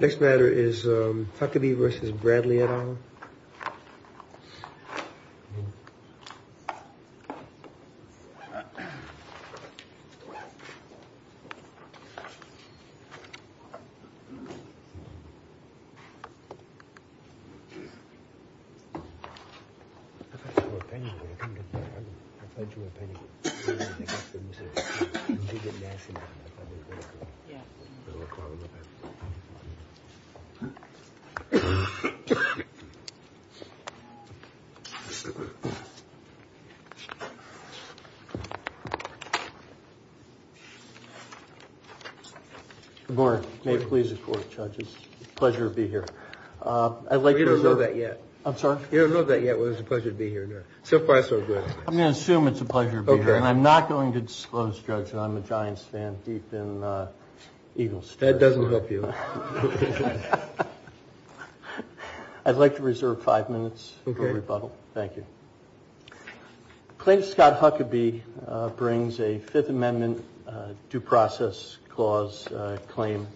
Next matter is Huckaby v. Bradley et al. Good morning. May it please the Court, Judge. It's a pleasure to be here. I'd like to reserve... We don't know that yet. I'm sorry? We don't know that yet whether it's a pleasure to be here or not. So far, so good. I'm going to assume it's a pleasure to be here. Okay. And I'm not going to disclose, Judge, that I'm a Giants fan deep in Eagles. That doesn't help you. I'd like to reserve five minutes for rebuttal. Thank you. Claims Scott Huckaby brings a Fifth Amendment due process clause claim,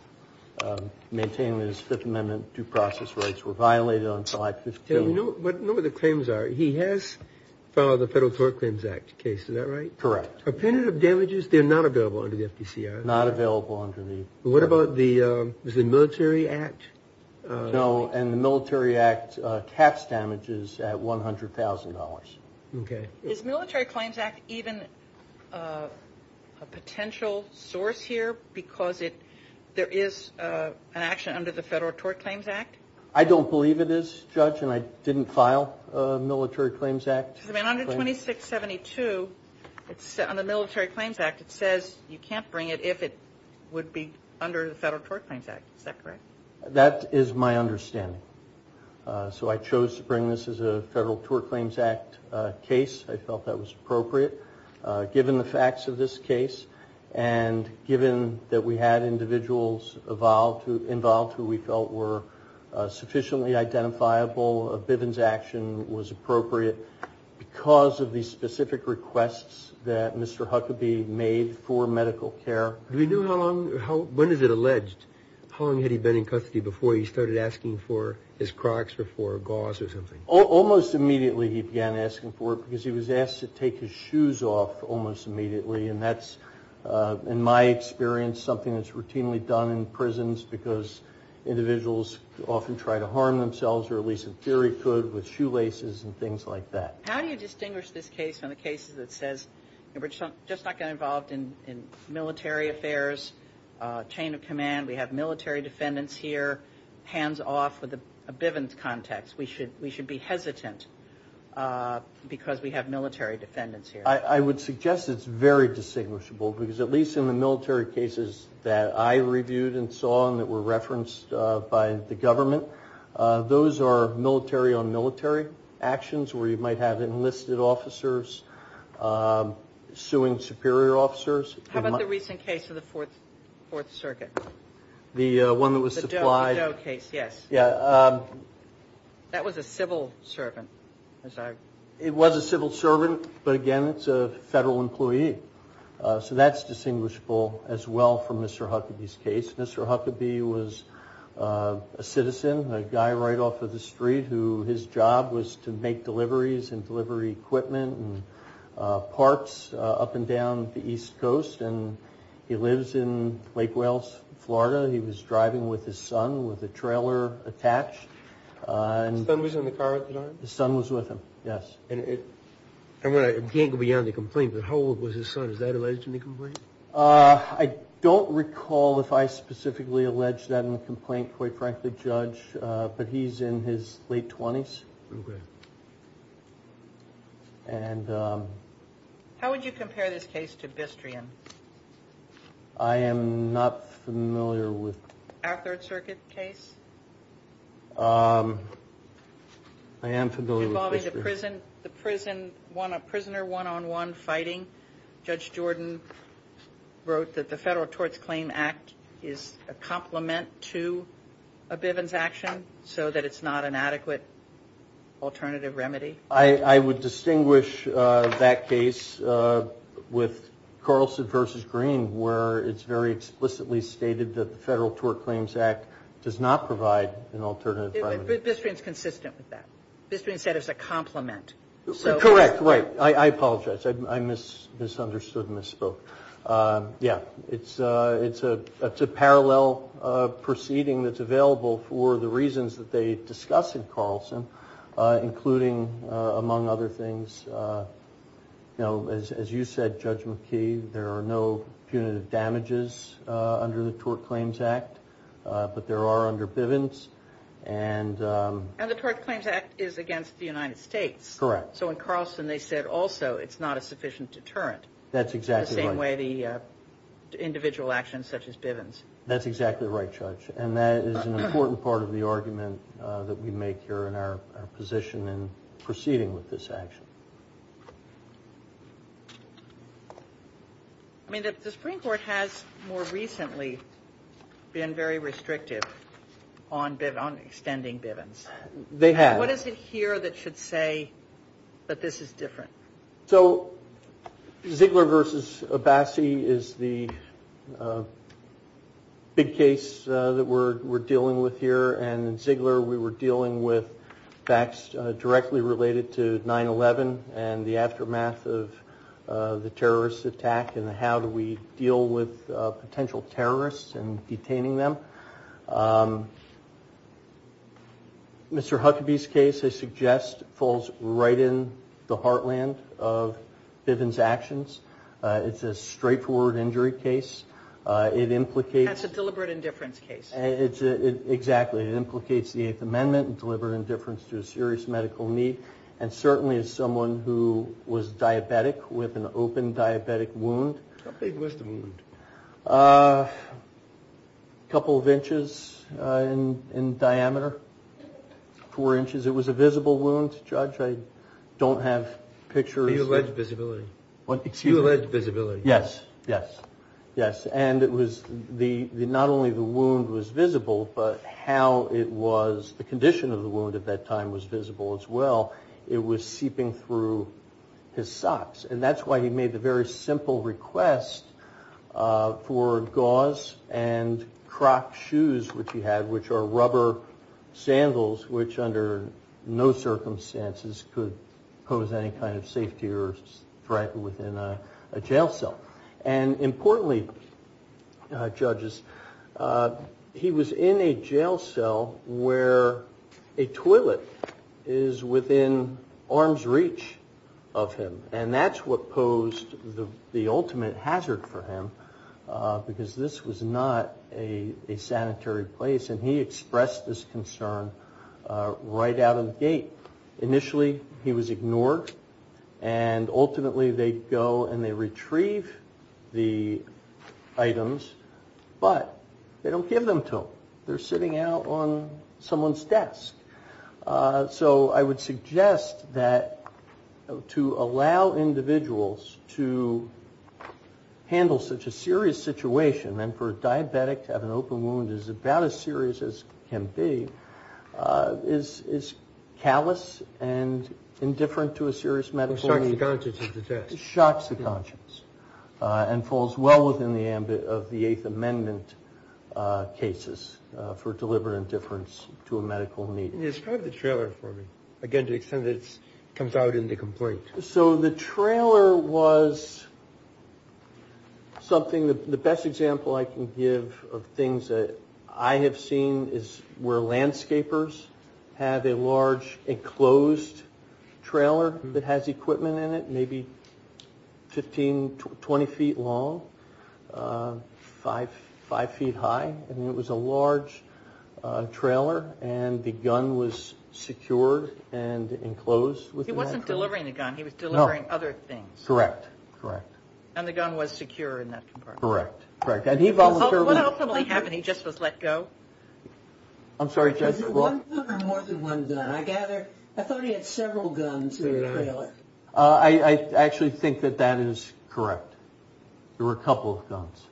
maintaining that his Fifth Amendment due process rights were violated on 515. We know what the claims are. He has filed the Federal Tort Claims Act case. Is that right? Correct. Appenditive damages, they're not available under the FDCR. Not available under the... What about the Military Act? No, and the Military Act tax damages at $100,000. Okay. Is Military Claims Act even a potential source here because there is an action under the Federal Tort Claims Act? I don't believe it is, Judge, and I didn't file a Military Claims Act claim. Under 2672, on the Military Claims Act, it says you can't bring it if it would be under the Federal Tort Claims Act. Is that correct? That is my understanding. So I chose to bring this as a Federal Tort Claims Act case. I felt that was appropriate. Given the facts of this case, and given that we had individuals involved who we felt were sufficiently identifiable, Bivens' action was appropriate because of the specific requests that Mr. Huckabee made for medical care. Do we know how long, when is it alleged, how long had he been in custody before he started asking for his Crocs or for gauze or something? Almost immediately he began asking for it because he was asked to take his shoes off almost immediately. And that's, in my experience, something that's routinely done in prisons because individuals often try to harm themselves, or at least in theory could, with shoelaces and things like that. How do you distinguish this case from the cases that says we're just not going to get involved in military affairs, chain of command, we have military defendants here, hands-off with a Bivens context. We should be hesitant because we have military defendants here. I would suggest it's very distinguishable because at least in the military cases that I reviewed and saw and that were referenced by the government, those are military-on-military actions where you might have enlisted officers suing superior officers. How about the recent case of the Fourth Circuit? The one that was supplied? The Doe case, yes. Yeah. That was a civil servant. It was a civil servant, but again, it's a federal employee. So that's distinguishable as well from Mr. Huckabee's case. Mr. Huckabee was a citizen, a guy right off of the street who his job was to make deliveries and deliver equipment and parks up and down the East Coast. He lives in Lake Wales, Florida. He was driving with his son with a trailer attached. His son was in the car at the time? His son was with him, yes. I can't go beyond the complaint, but how old was his son? Is that alleged in the complaint? I don't recall if I specifically alleged that in the complaint, quite frankly, Judge, but he's in his late 20s. Okay. How would you compare this case to Bistrian? I am not familiar with... Our Third Circuit case? I am familiar with Bistrian. Involving the prisoner one-on-one fighting. Judge Jordan wrote that the Federal Torts Claim Act is a complement to a Bivens action so that it's not an adequate alternative remedy. I would distinguish that case with Carlson v. Green where it's very explicitly stated that the Federal Tort Claims Act does not provide an alternative remedy. Bistrian is consistent with that. Bistrian said it's a complement. Correct, right. I apologize. I misunderstood and misspoke. Yeah, it's a parallel proceeding that's available for the reasons that they discuss in Carlson including, among other things, as you said, Judge McKee, there are no punitive damages under the Tort Claims Act, but there are under Bivens and... And the Tort Claims Act is against the United States. Correct. So in Carlson they said also it's not a sufficient deterrent. That's exactly right. The same way the individual actions such as Bivens. That's exactly right, Judge. And that is an important part of the argument that we make here in our position in proceeding with this action. I mean, the Supreme Court has more recently been very restrictive on extending Bivens. They have. What is it here that should say that this is different? So Ziegler v. Abbasi is the big case that we're dealing with here. And in Ziegler we were dealing with facts directly related to 9-11 and the aftermath of the terrorist attack and how do we deal with potential terrorists and detaining them. Mr. Huckabee's case, I suggest, falls right in the heartland of Bivens' actions. It's a straightforward injury case. It implicates... That's a deliberate indifference case. Exactly. It implicates the Eighth Amendment and deliberate indifference to a serious medical need and certainly as someone who was diabetic with an open diabetic wound. How big was the wound? A couple of inches in diameter. Four inches. Was it a visible wound, Judge? I don't have pictures. You allege visibility. Excuse me? You allege visibility. Yes, yes, yes. And it was... Not only the wound was visible but how it was... The condition of the wound at that time was visible as well. It was seeping through his socks and that's why he made the very simple request for gauze and croc shoes, which he had, which are rubber sandals which under no circumstances could pose any kind of safety or threat within a jail cell. And importantly, Judges, he was in a jail cell where a toilet is within arm's reach of him and that's what posed the ultimate hazard for him because this was not a sanitary place and he expressed this concern right out of the gate. Initially, he was ignored and ultimately they'd go and they'd retrieve the items but they don't give them to him. They're sitting out on someone's desk. So I would suggest that to allow individuals to handle such a serious situation and for a diabetic to have an open wound is about as serious as can be, is callous and indifferent to a serious medical need. Shocks the conscience of the test. Shocks the conscience and falls well within the ambit of the Eighth Amendment cases for deliberate indifference to a medical need. Describe the trailer for me again to the extent that it comes out in the complaint. So the trailer was something, the best example I can give of things that I have seen is where landscapers have a large enclosed trailer that has equipment in it maybe 15, 20 feet long 5 feet high and it was a large trailer and the gun was secured and enclosed. He wasn't delivering the gun he was delivering other things. Correct. And the gun was secure in that compartment. Correct. What ultimately happened when he just was let go? I'm sorry, Judge. Was it one gun or more than one gun? I thought he had several guns in the trailer. I actually think that that is correct. There were a couple of guns.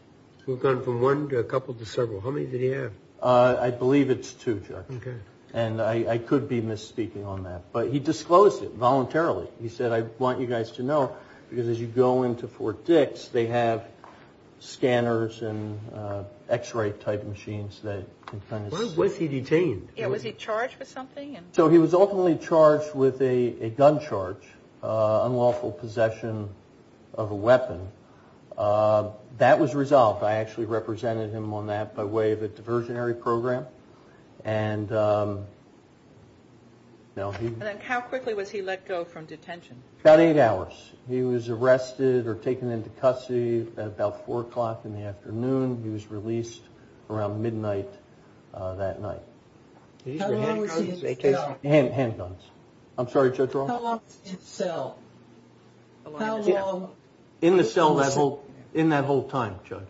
A couple to several. How many did he have? I believe it's two, Judge. And I could be misspeaking on that. But he disclosed it voluntarily. He said, I want you guys to know because as you go into Fort Dix they have scanners and x-ray type machines Where was he detained? Was he charged with something? So he was ultimately charged with a gun charge unlawful possession of a weapon. That was resolved. I actually represented him on that by way of a diversionary program. How quickly was he let go from detention? About 8 hours. He was arrested or taken into custody at about 4 o'clock in the afternoon. He was released around midnight that night. How long was he in cell? Handguns. How long was he in cell? How long? In the cell that whole time, Judge.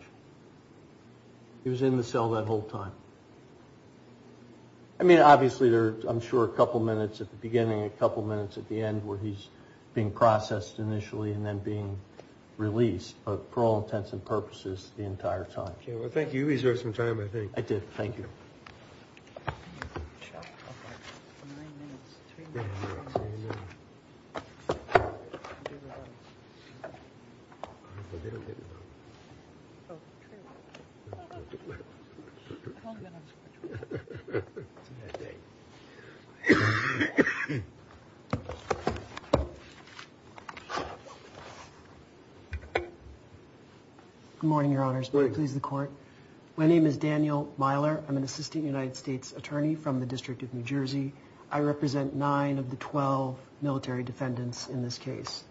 He was in the cell that whole time. I mean, obviously there are, I'm sure, a couple minutes at the beginning, a couple minutes at the end where he's being processed initially and then being released but for all intents and purposes the entire time. Thank you. Good morning, Your Honors. May it please the Court. My name is Daniel Myler. I'm an assistant United States attorney from the District of New Jersey. I represent 9 of the 12 military defendants in this case.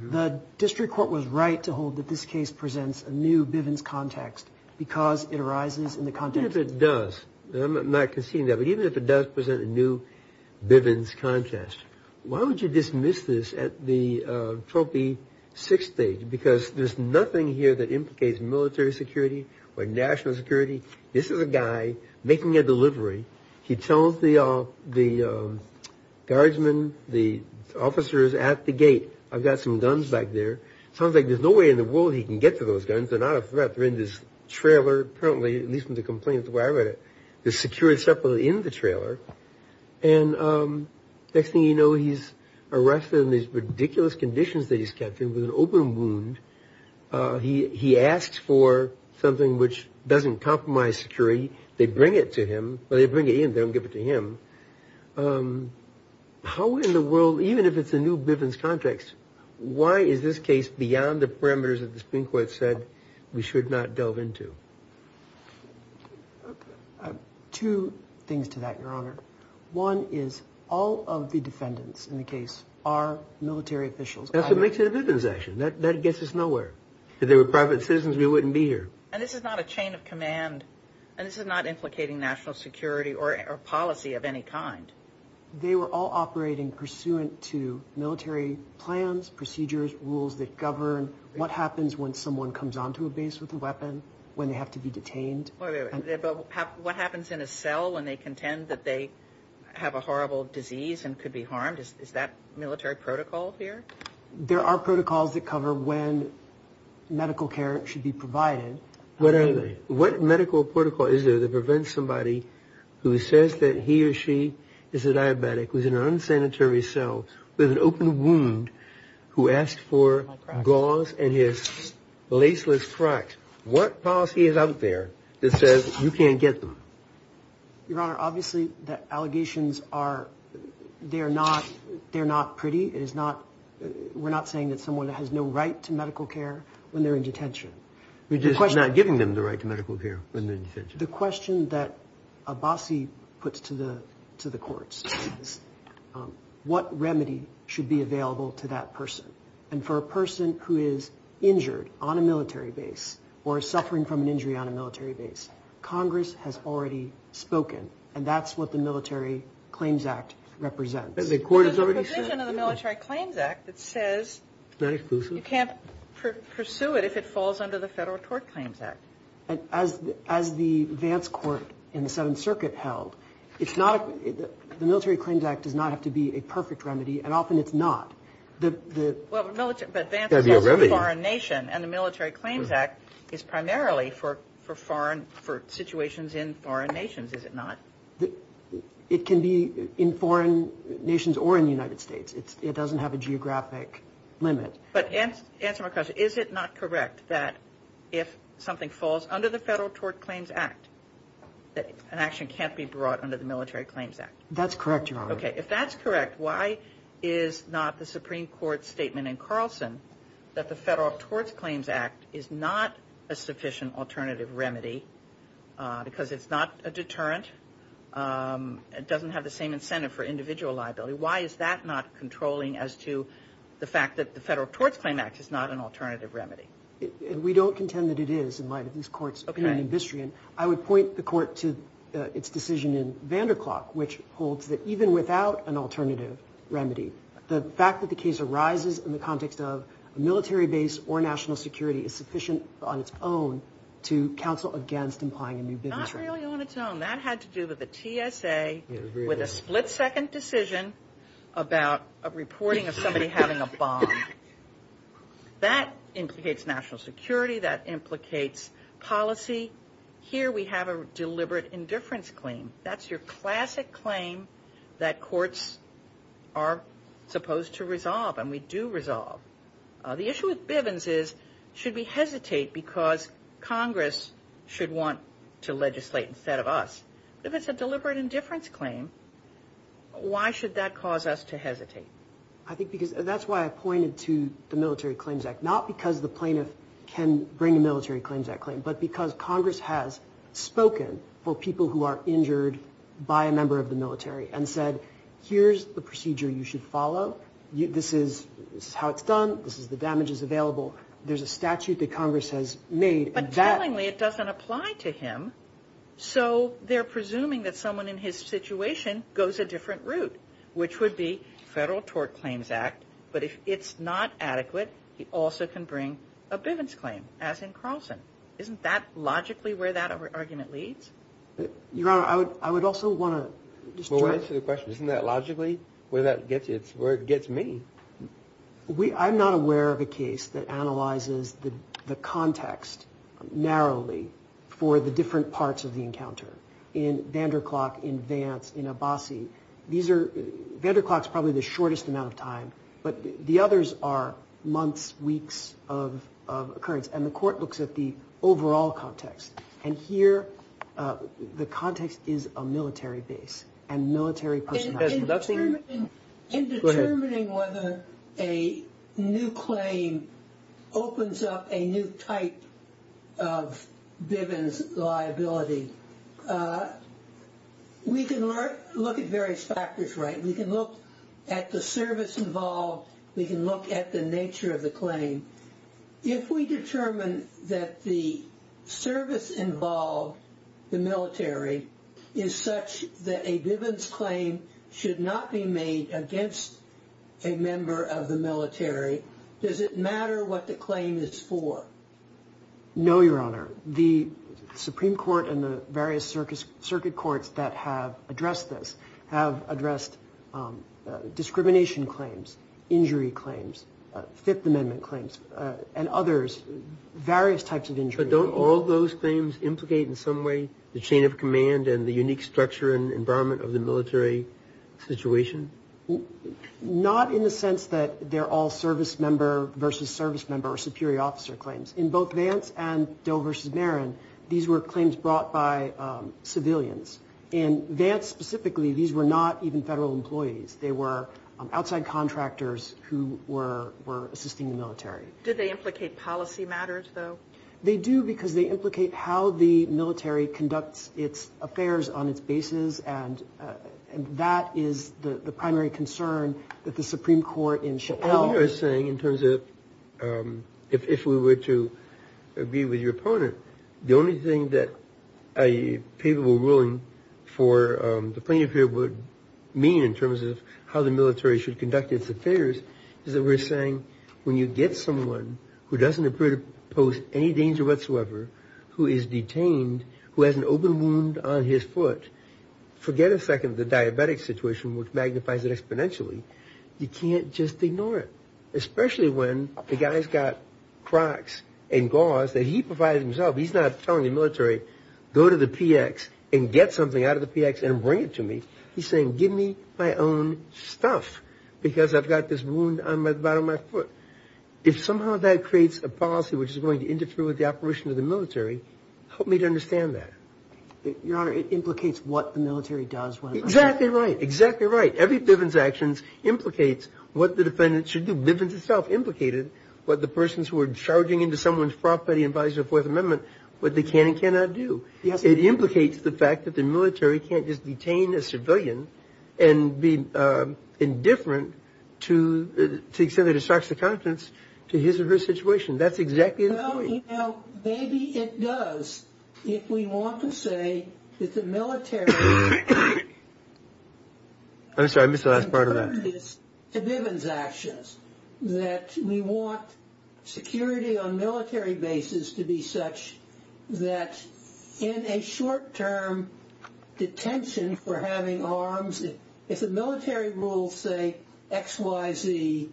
The District Court was right to hold that this case presents a new Bivens context because it arises in the context... Even if it does, I'm not conceding that, but even if it does present a new Bivens context, why would you dismiss this at the Trophy 6 stage? Because there's nothing here that implicates military security or national security. This is a guy making a delivery. He tells the guardsmen, the officers at the gate, I've got some guns back there. Sounds like there's no way in the world he can get to those guns. They're not a threat. They're in this trailer. Apparently, at least from the complaints where I read it, they're secured separately in the trailer. Next thing you know, he's arrested in these ridiculous conditions that he's kept in with an open wound. He asks for something which doesn't compromise security. They bring it to him. Well, they bring it in. They don't give it to him. How in the world, even if it's a new Bivens context, why is this case beyond the parameters that the Supreme Court said we should not delve into? Two things to that, Your Honor. One is all of the defendants in the case are military officials. That's what makes it a Bivens action. That gets us nowhere. If they were private citizens, we wouldn't be here. And this is not a chain of command. And this is not implicating national security or policy of any kind. They were all operating pursuant to military plans, procedures, rules that govern what happens when someone comes onto a base with a weapon, when they have to be detained. What happens in a cell when they contend that they have a horrible disease and could be harmed? Is that military protocol here? There are protocols that cover when medical care should be provided. What medical protocol is there that prevents somebody who says that he or she is a diabetic, who's in an unsanitary cell with an open wound who asked for gauze and his laceless tracks? What policy is out there that says you can't get them? Your Honor, obviously the allegations are they're not pretty. We're not saying that someone has no right to medical care when they're in detention. You're just not giving them the right to medical care when they're in detention. The question that Abbasi puts to the courts is what remedy should be available to that person? For a person who is injured on a military base or suffering from an injury on a military base Congress has already spoken and that's what the Military Claims Act represents. There's a provision in the Military Claims Act that says you can't pursue it if it falls under the Federal Tort Claims Act. As the Vance Court in the Seventh Circuit held the Military Claims Act does not have to be a perfect remedy and often it's not. But Vance is a foreign nation and the Military Claims Act is primarily for situations in foreign nations, is it not? It can be in foreign nations or in the United States. It doesn't have a geographic limit. Is it not correct that if something falls under the Federal Tort Claims Act an action can't be brought under the Military Claims Act? That's correct, Your Honor. If that's correct, why is not the Supreme Court's statement in Carlson that the Federal Tort Claims Act is not a sufficient alternative remedy because it's not a deterrent and doesn't have the same incentive for individual liability. Why is that not controlling as to the fact that the Federal Tort Claims Act is not an alternative remedy? We don't contend that it is Okay. I would point the Court to its decision in Vanderklok which holds that even without an alternative remedy, the fact that the case arises in the context of a military base or national security is sufficient on its own to counsel against implying a new bid. Not really on its own. That had to do with the TSA with a split-second decision about a reporting of somebody having a bomb. That implicates national security. That implicates policy. Here we have a deliberate indifference claim. That's your classic claim that courts are supposed to resolve and we do resolve. The issue with Bivens is should we hesitate because Congress should want to legislate instead of us? If it's a deliberate indifference claim why should that cause us to hesitate? I think because that's why I pointed to the Military Claims Act. Not because the plaintiff can bring a Military Claims Act claim but because Congress has spoken for people who are injured by a member of the military and said here's the procedure you should follow this is how it's done this is the damages available there's a statute that Congress has made But tellingly it doesn't apply to him so they're presuming that someone in his situation goes a different route which would be Federal Tort Claims Act but if it's not adequate he also can bring a Bivens claim as in Carlson Isn't that logically where that argument leads? Your Honor I would also want to answer the question. Isn't that logically where it gets me? I'm not aware of a case narrowly for the different parts of the encounter in Vanderklok, in Vance in Abbasi Vanderklok is probably the shortest amount of time but the others are months, weeks of occurrence and the court looks at the overall context and here the context is a military base In determining whether a new claim opens up a new type of Bivens liability we can look at various factors we can look at the service involved we can look at the nature of the claim If we determine that the service involved, the military is such that a Bivens claim should not be made against a member of the military does it matter what the claim is for? No, Your Honor The Supreme Court and the various circuit courts that have addressed this have addressed discrimination claims, injury claims Fifth Amendment claims and others various types of injuries But don't all those claims implicate in some way the chain of command and the unique structure and environment of the military situation? Not in the sense that they're all service member versus service member or superior officer In both Vance and Doe versus Marin these were claims brought by civilians In Vance specifically these were not even federal employees they were outside contractors who were assisting the military Did they implicate policy matters though? They do because they implicate how the military conducts its affairs on its bases and that is the primary concern that the Supreme Court in Chappelle What we are saying in terms of if we were to agree with your opponent the only thing that a papal ruling for the plaintiff here would mean in terms of how the military should conduct its affairs is that we're saying when you get someone who doesn't appear to pose any danger whatsoever who is detained who has an open wound on his foot forget a second the diabetic situation which magnifies it exponentially you can't just ignore it especially when the guy's got crocs and gauze that he provided himself he's not telling the military go to the PX and get something out of the PX and bring it to me he's saying give me my own stuff because I've got this wound on the bottom of my foot If somehow that creates a policy which is going to interfere with the operation of the military help me to understand that Your honor it implicates what the military does when Exactly right Every Bivens action implicates what the defendant should do Bivens itself implicated what the persons who were charging into someone's property in violation of the 4th amendment what they can and cannot do It implicates the fact that the military can't just detain a civilian and be indifferent to the extent that it shocks the confidence to his or her situation Maybe it does if we want to say that the military I'm sorry I missed the last part of that Bivens actions that we want security on military bases to be such that in a short term detention for having arms if the military rules say XYZ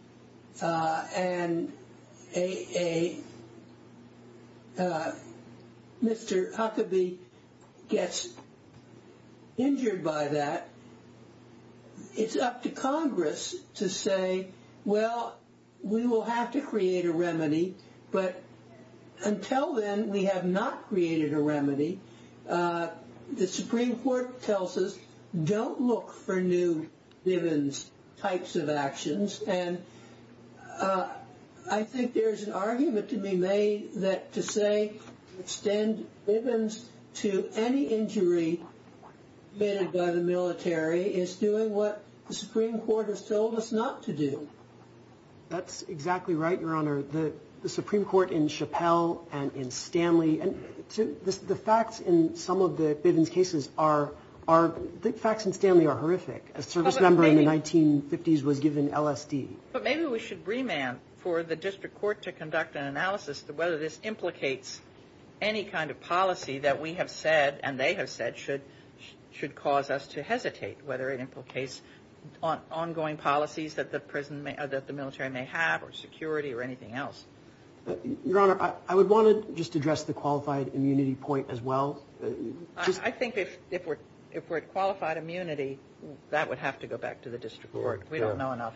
and a a Mr. Huckabee gets injured by that it's up to congress to say well we will have to create a remedy but until then we have not created a remedy the supreme court tells us don't look for new Bivens types of actions and I think there's an argument to be made that to say extend Bivens to any injury committed by the military is doing what the supreme court has told us not to do That's exactly right your honor the supreme court in Chappell and in Stanley the facts in some of the Bivens cases are the facts in Stanley are horrific a service member in the 1950s was given LSD But maybe we should remand for the district court to conduct an analysis whether this implicates any kind of policy that we have said and they have said should cause us to hesitate whether it implicates ongoing policies that the military may have or security or anything else Your honor I would want to just address the qualified immunity point as well I think if we're at qualified immunity that would have to go back to the district court We don't know enough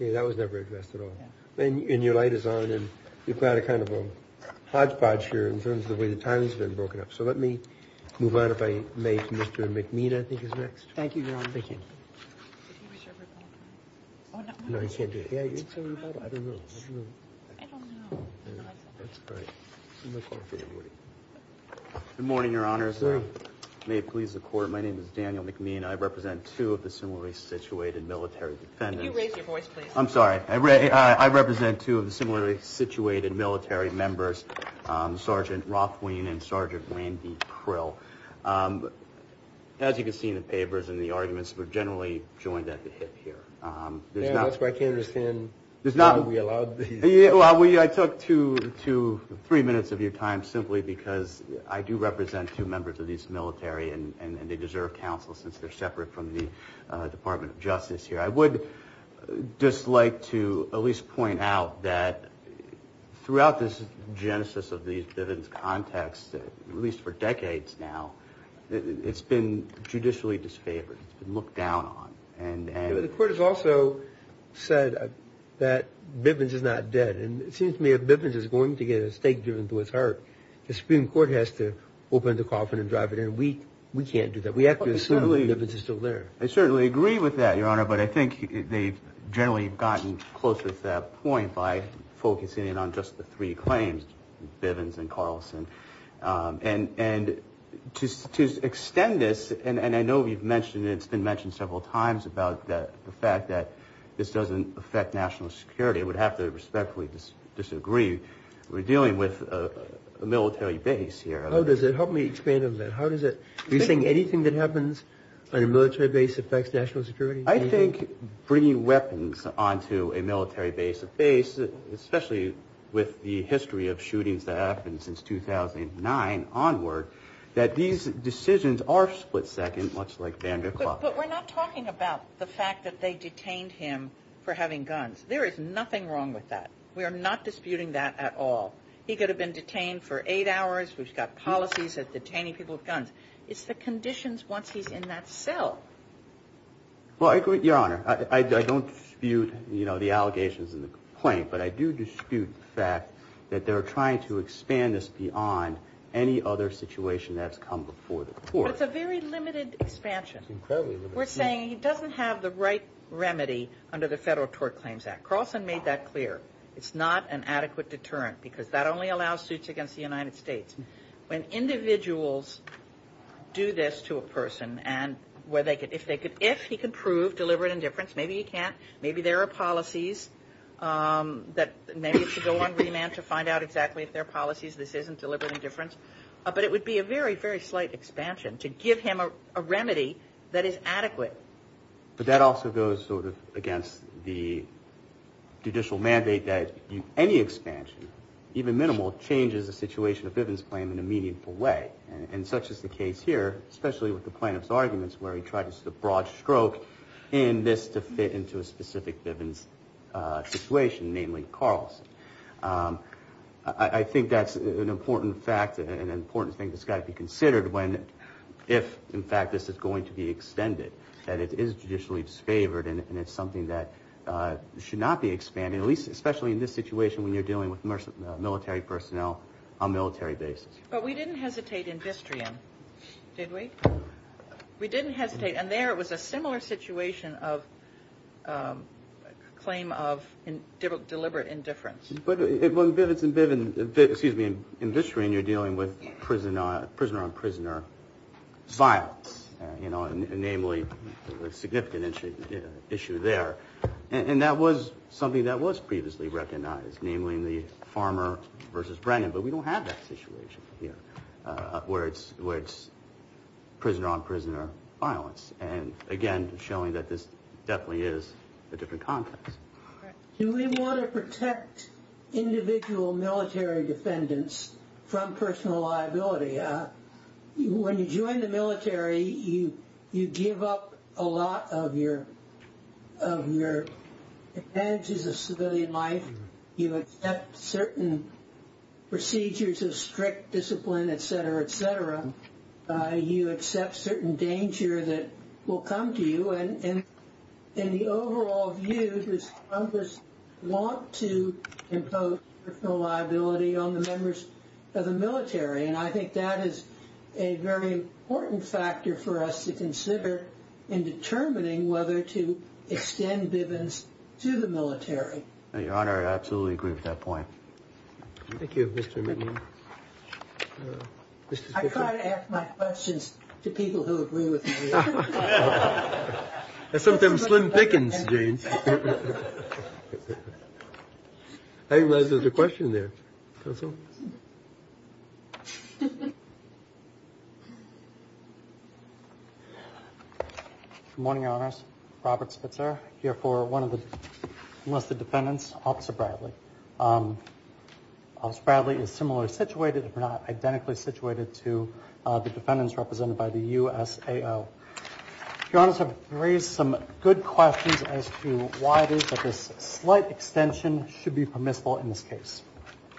That was never addressed at all And your light is on and we've got a kind of a hodgepodge here in terms of the way the timing has been broken up So let me move on if I may to Mr. McMean I think is next Good morning your honor My name is Daniel McMean I represent two of the similarly situated military defendants I'm sorry I represent two of the similarly situated military members Sergeant Rothwein and Sergeant Randy Prill As you can see in the papers and the arguments we're generally joined at the hip here That's why I can't understand whether we allowed I took two three minutes of your time simply because I do represent two members of these military and they deserve counsel since they're separate from the Department of Justice I would just like to at least point out that throughout this genesis of the Bivens context at least for decades now it's been judicially disfavored The court has also said that Bivens is not dead and it seems to me that if Bivens is going to get a stake given to what's hurt the Supreme Court has to open the coffin and drive it in We can't do that I certainly agree with that but I think they've generally gotten closer to that point by focusing in on just the three claims Bivens and Carlson and to extend this and I know you've mentioned and it's been mentioned several times about the fact that this doesn't affect national security it would have to respectfully disagree We're dealing with a military base here Help me expand on that Are you saying anything that happens on a military base affects national security? I think bringing weapons onto a military base especially with the history of shootings that have happened since 2009 onward that these decisions are split second much like van der Klopp But we're not talking about the fact that they detained him for having guns There is nothing wrong with that We're not disputing that at all He could have been detained for 8 hours We've got policies that detain people with guns It's the conditions once he's in that cell Well I agree Your Honor I don't dispute the allegations but I do dispute the fact that they're trying to expand this beyond any other situation that's come before the court But it's a very limited expansion We're saying he doesn't have the right Carlson made that clear It's not an adequate deterrent because that only allows suits against the United States When individuals do this to a person and if he can prove deliberate indifference maybe there are policies that maybe it should go on remand to find out exactly if there are policies this isn't deliberate indifference but it would be a very slight expansion to give him a remedy that is adequate But that also goes sort of against the judicial mandate that any expansion, even minimal changes the situation of Bivens' claim in a meaningful way and such is the case here especially with the plaintiff's arguments where he tried a broad stroke in this to fit into a specific Bivens' situation, namely Carlson I think that's an important fact and an important thing that's got to be considered if in fact this is going to be extended that it is judicially disfavored and it's something that should not be expanded especially in this situation when you're dealing with military personnel on a military basis But we didn't hesitate in Bistrian and there it was a similar situation of claim of deliberate indifference In Bistrian you're dealing with prisoner-on-prisoner violence a significant issue there and that was something that was previously recognized namely in the Farmer vs. Brennan but we don't have that situation where it's prisoner-on-prisoner violence and again showing that this definitely is a different context Do we want to protect individual military defendants from personal liability? When you join the military you give up a lot of your advantages of civilian life you accept certain procedures of strict discipline etc., etc. you accept certain danger that will come to you and the overall view is Trump wants to impose personal liability on the members of the military and I think that is a very important factor for us to consider in determining whether to extend Bivens to the military Your Honor, I absolutely agree with that point Thank you Mr. McNeil I try to ask my questions to people who agree with me That's some of them slim dickens James I think there's a question there Good morning Your Honor Robert Spitzer here for one of the enlisted defendants Officer Bradley Officer Bradley is similarly situated if not identically situated to the defendants represented by the USAO Your Honor I've raised some good questions as to why this slight extension should be permissible in this case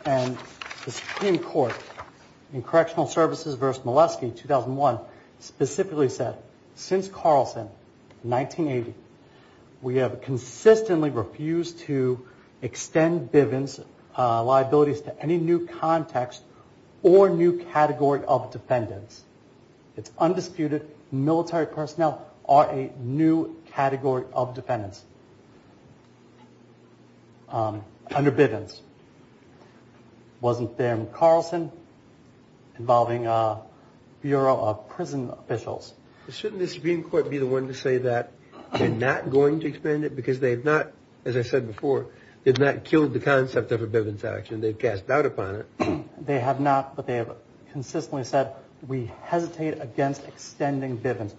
and the Supreme Court in Correctional Services v. Molesky 2001 specifically said since Carlson 1980 we have consistently refused to extend Bivens liabilities to any new context or new category of defendants It's undisputed military personnel are a new category of defendants under Bivens Wasn't there in Carlson involving Bureau of Prison Officials Shouldn't the Supreme Court be the one to say that they're not going to extend it because they've not, as I said before they've not killed the concept of a Bivens action they've cast doubt upon it They have not, but they have consistently said we hesitate against extending Bivens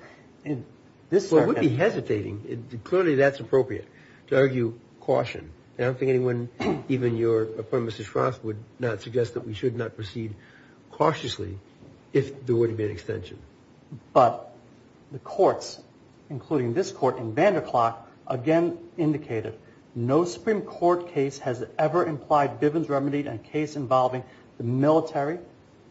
Well we'd be hesitating clearly that's appropriate to argue caution I don't think anyone, even your appointment, Mr. Schroff, would not suggest that we should not proceed cautiously if there were to be an extension But the courts including this court in Vanderklart again indicated no Supreme Court case has ever implied Bivens remedied a case involving the military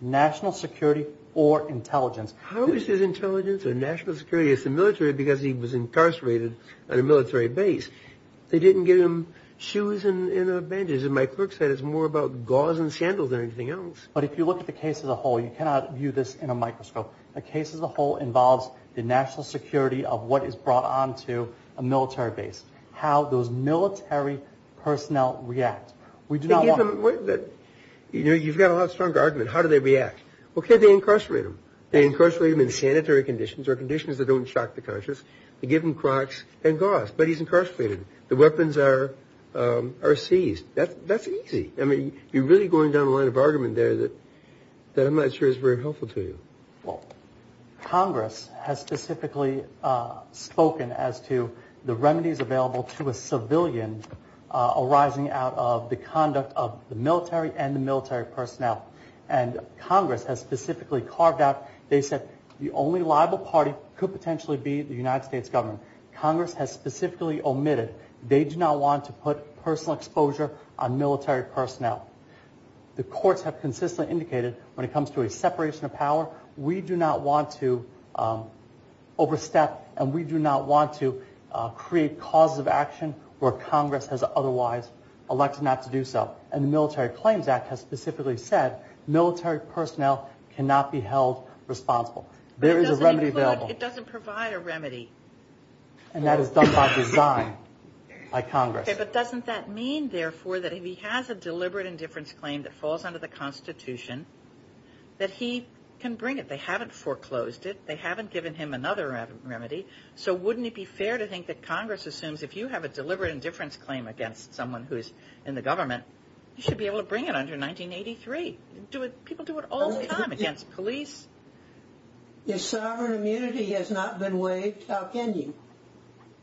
national security or intelligence How is his intelligence or national security? It's the military because he was incarcerated on a military base They didn't give him shoes and bandages and my clerk said it's more about gauze and sandals than anything else. But if you look at the case as a whole you cannot view this in a microscope The case as a whole involves the national security of what is brought on to a military base How those military personnel react We do not want... You've got a lot stronger argument How do they react? Well could they incarcerate them? They incarcerate them in sanitary conditions or conditions that don't shock the conscious They give them Crocs and gauze But he's incarcerated. The weapons are seized. That's easy You're really going down a line of argument there that I'm not sure is very helpful to you Congress has specifically spoken as to the remedies available to a civilian arising out of the conduct of the military and the military personnel Congress has specifically carved out They said the only liable party could potentially be the United States government Congress has specifically omitted They do not want to put personal exposure on military personnel The courts have consistently indicated when it comes to a separation of power, we do not want to overstep and we do not want to create causes of action where Congress has otherwise elected not to do so. And the Military Claims Act has specifically said military personnel cannot be held responsible There is a remedy available It doesn't provide a remedy And that is done by design by Congress But doesn't that mean therefore that if he has a deliberate indifference claim that falls under the Constitution that he can bring it. They haven't foreclosed it They haven't given him another remedy So wouldn't it be fair to think that Congress assumes if you have a deliberate indifference claim against someone who is in the government you should be able to bring it under 1983 People do it all the time against police If sovereign immunity has not been waived how can you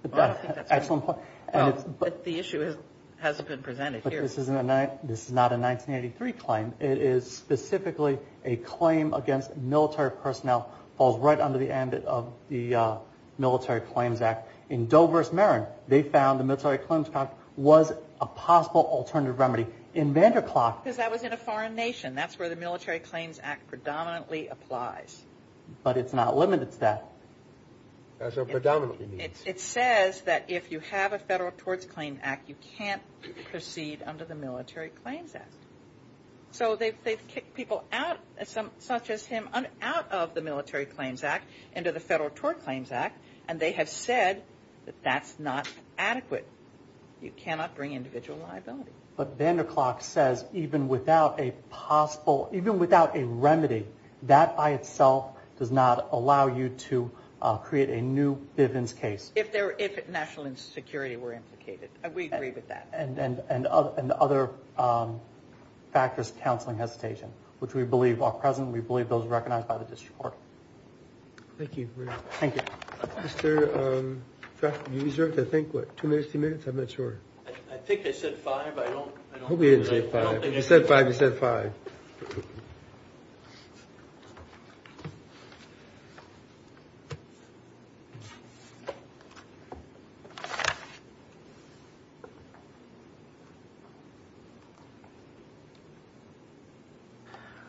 The issue hasn't been presented This is not a 1983 claim. It is specifically a claim against military personnel falls right under the end of the Military Claims Act In Dover's Marin they found the Military Claims Act was a possible alternative remedy Because that was in a foreign nation. That's where the Military Claims Act predominantly applies But it's not limited to that It says that if you have a federal torts claim act you can't proceed under the Military Claims Act So they've kicked people out such as him out of the Military Claims Act into the federal tort claims act and they have said that that's not adequate. You cannot bring individual liability But Vanderklok says even without a possible, even without a remedy that by itself does not allow you to create a new Bivens case If national and security were implicated. We agree with that And other factors, counseling, hesitation which we believe are present. We believe those are recognized by the district court Thank you Mr. Traffick, you deserve to think Two minutes, two minutes, I'm not sure I think I said five He said five, he said five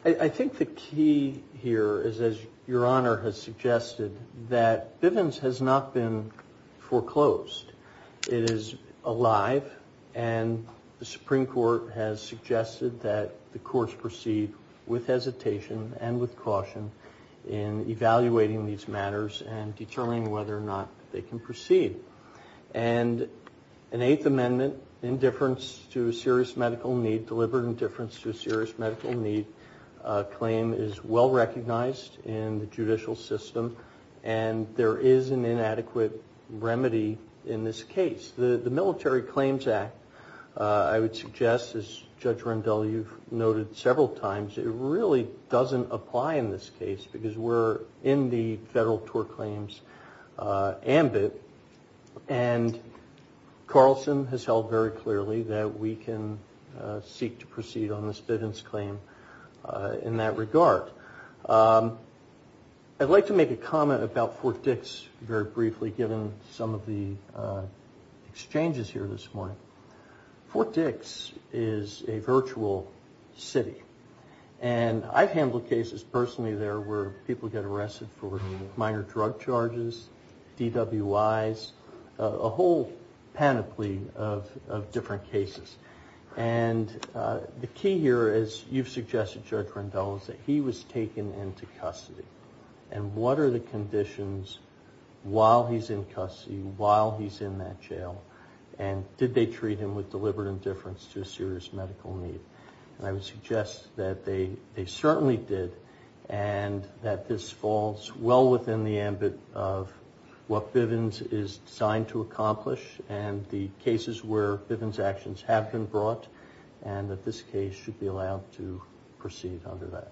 I think the key here is as your honor has suggested that Bivens has not been foreclosed. It is alive and the Supreme Court has suggested that the courts proceed with hesitation and with caution in evaluating these matters and determining whether or not they can proceed And an Eighth Amendment indifference to a serious medical need, deliberate indifference to a serious medical need claim is well recognized in the judicial system and there is an inadequate remedy in this case The Military Claims Act I would suggest as Judge Rendell, you've noted several times it really doesn't apply in this case because we're in the federal tort claims ambit and Carlson has held very clearly that we can seek to proceed on this Bivens claim in that regard I'd like to make a comment about Fort Dix very briefly given some of the exchanges here this morning Fort Dix is a virtual city and I've handled cases personally there where people get arrested for minor drug charges DWIs a whole panoply of different cases and the key here is you've suggested Judge Rendell that he was taken into custody and what are the conditions while he's in custody while he's in that jail and did they treat him with deliberate indifference to a serious medical need and I would suggest that they certainly did and that this falls well within the ambit of what Bivens is designed to accomplish and the cases where Bivens actions have been brought and that this case should be allowed to proceed under that That's all.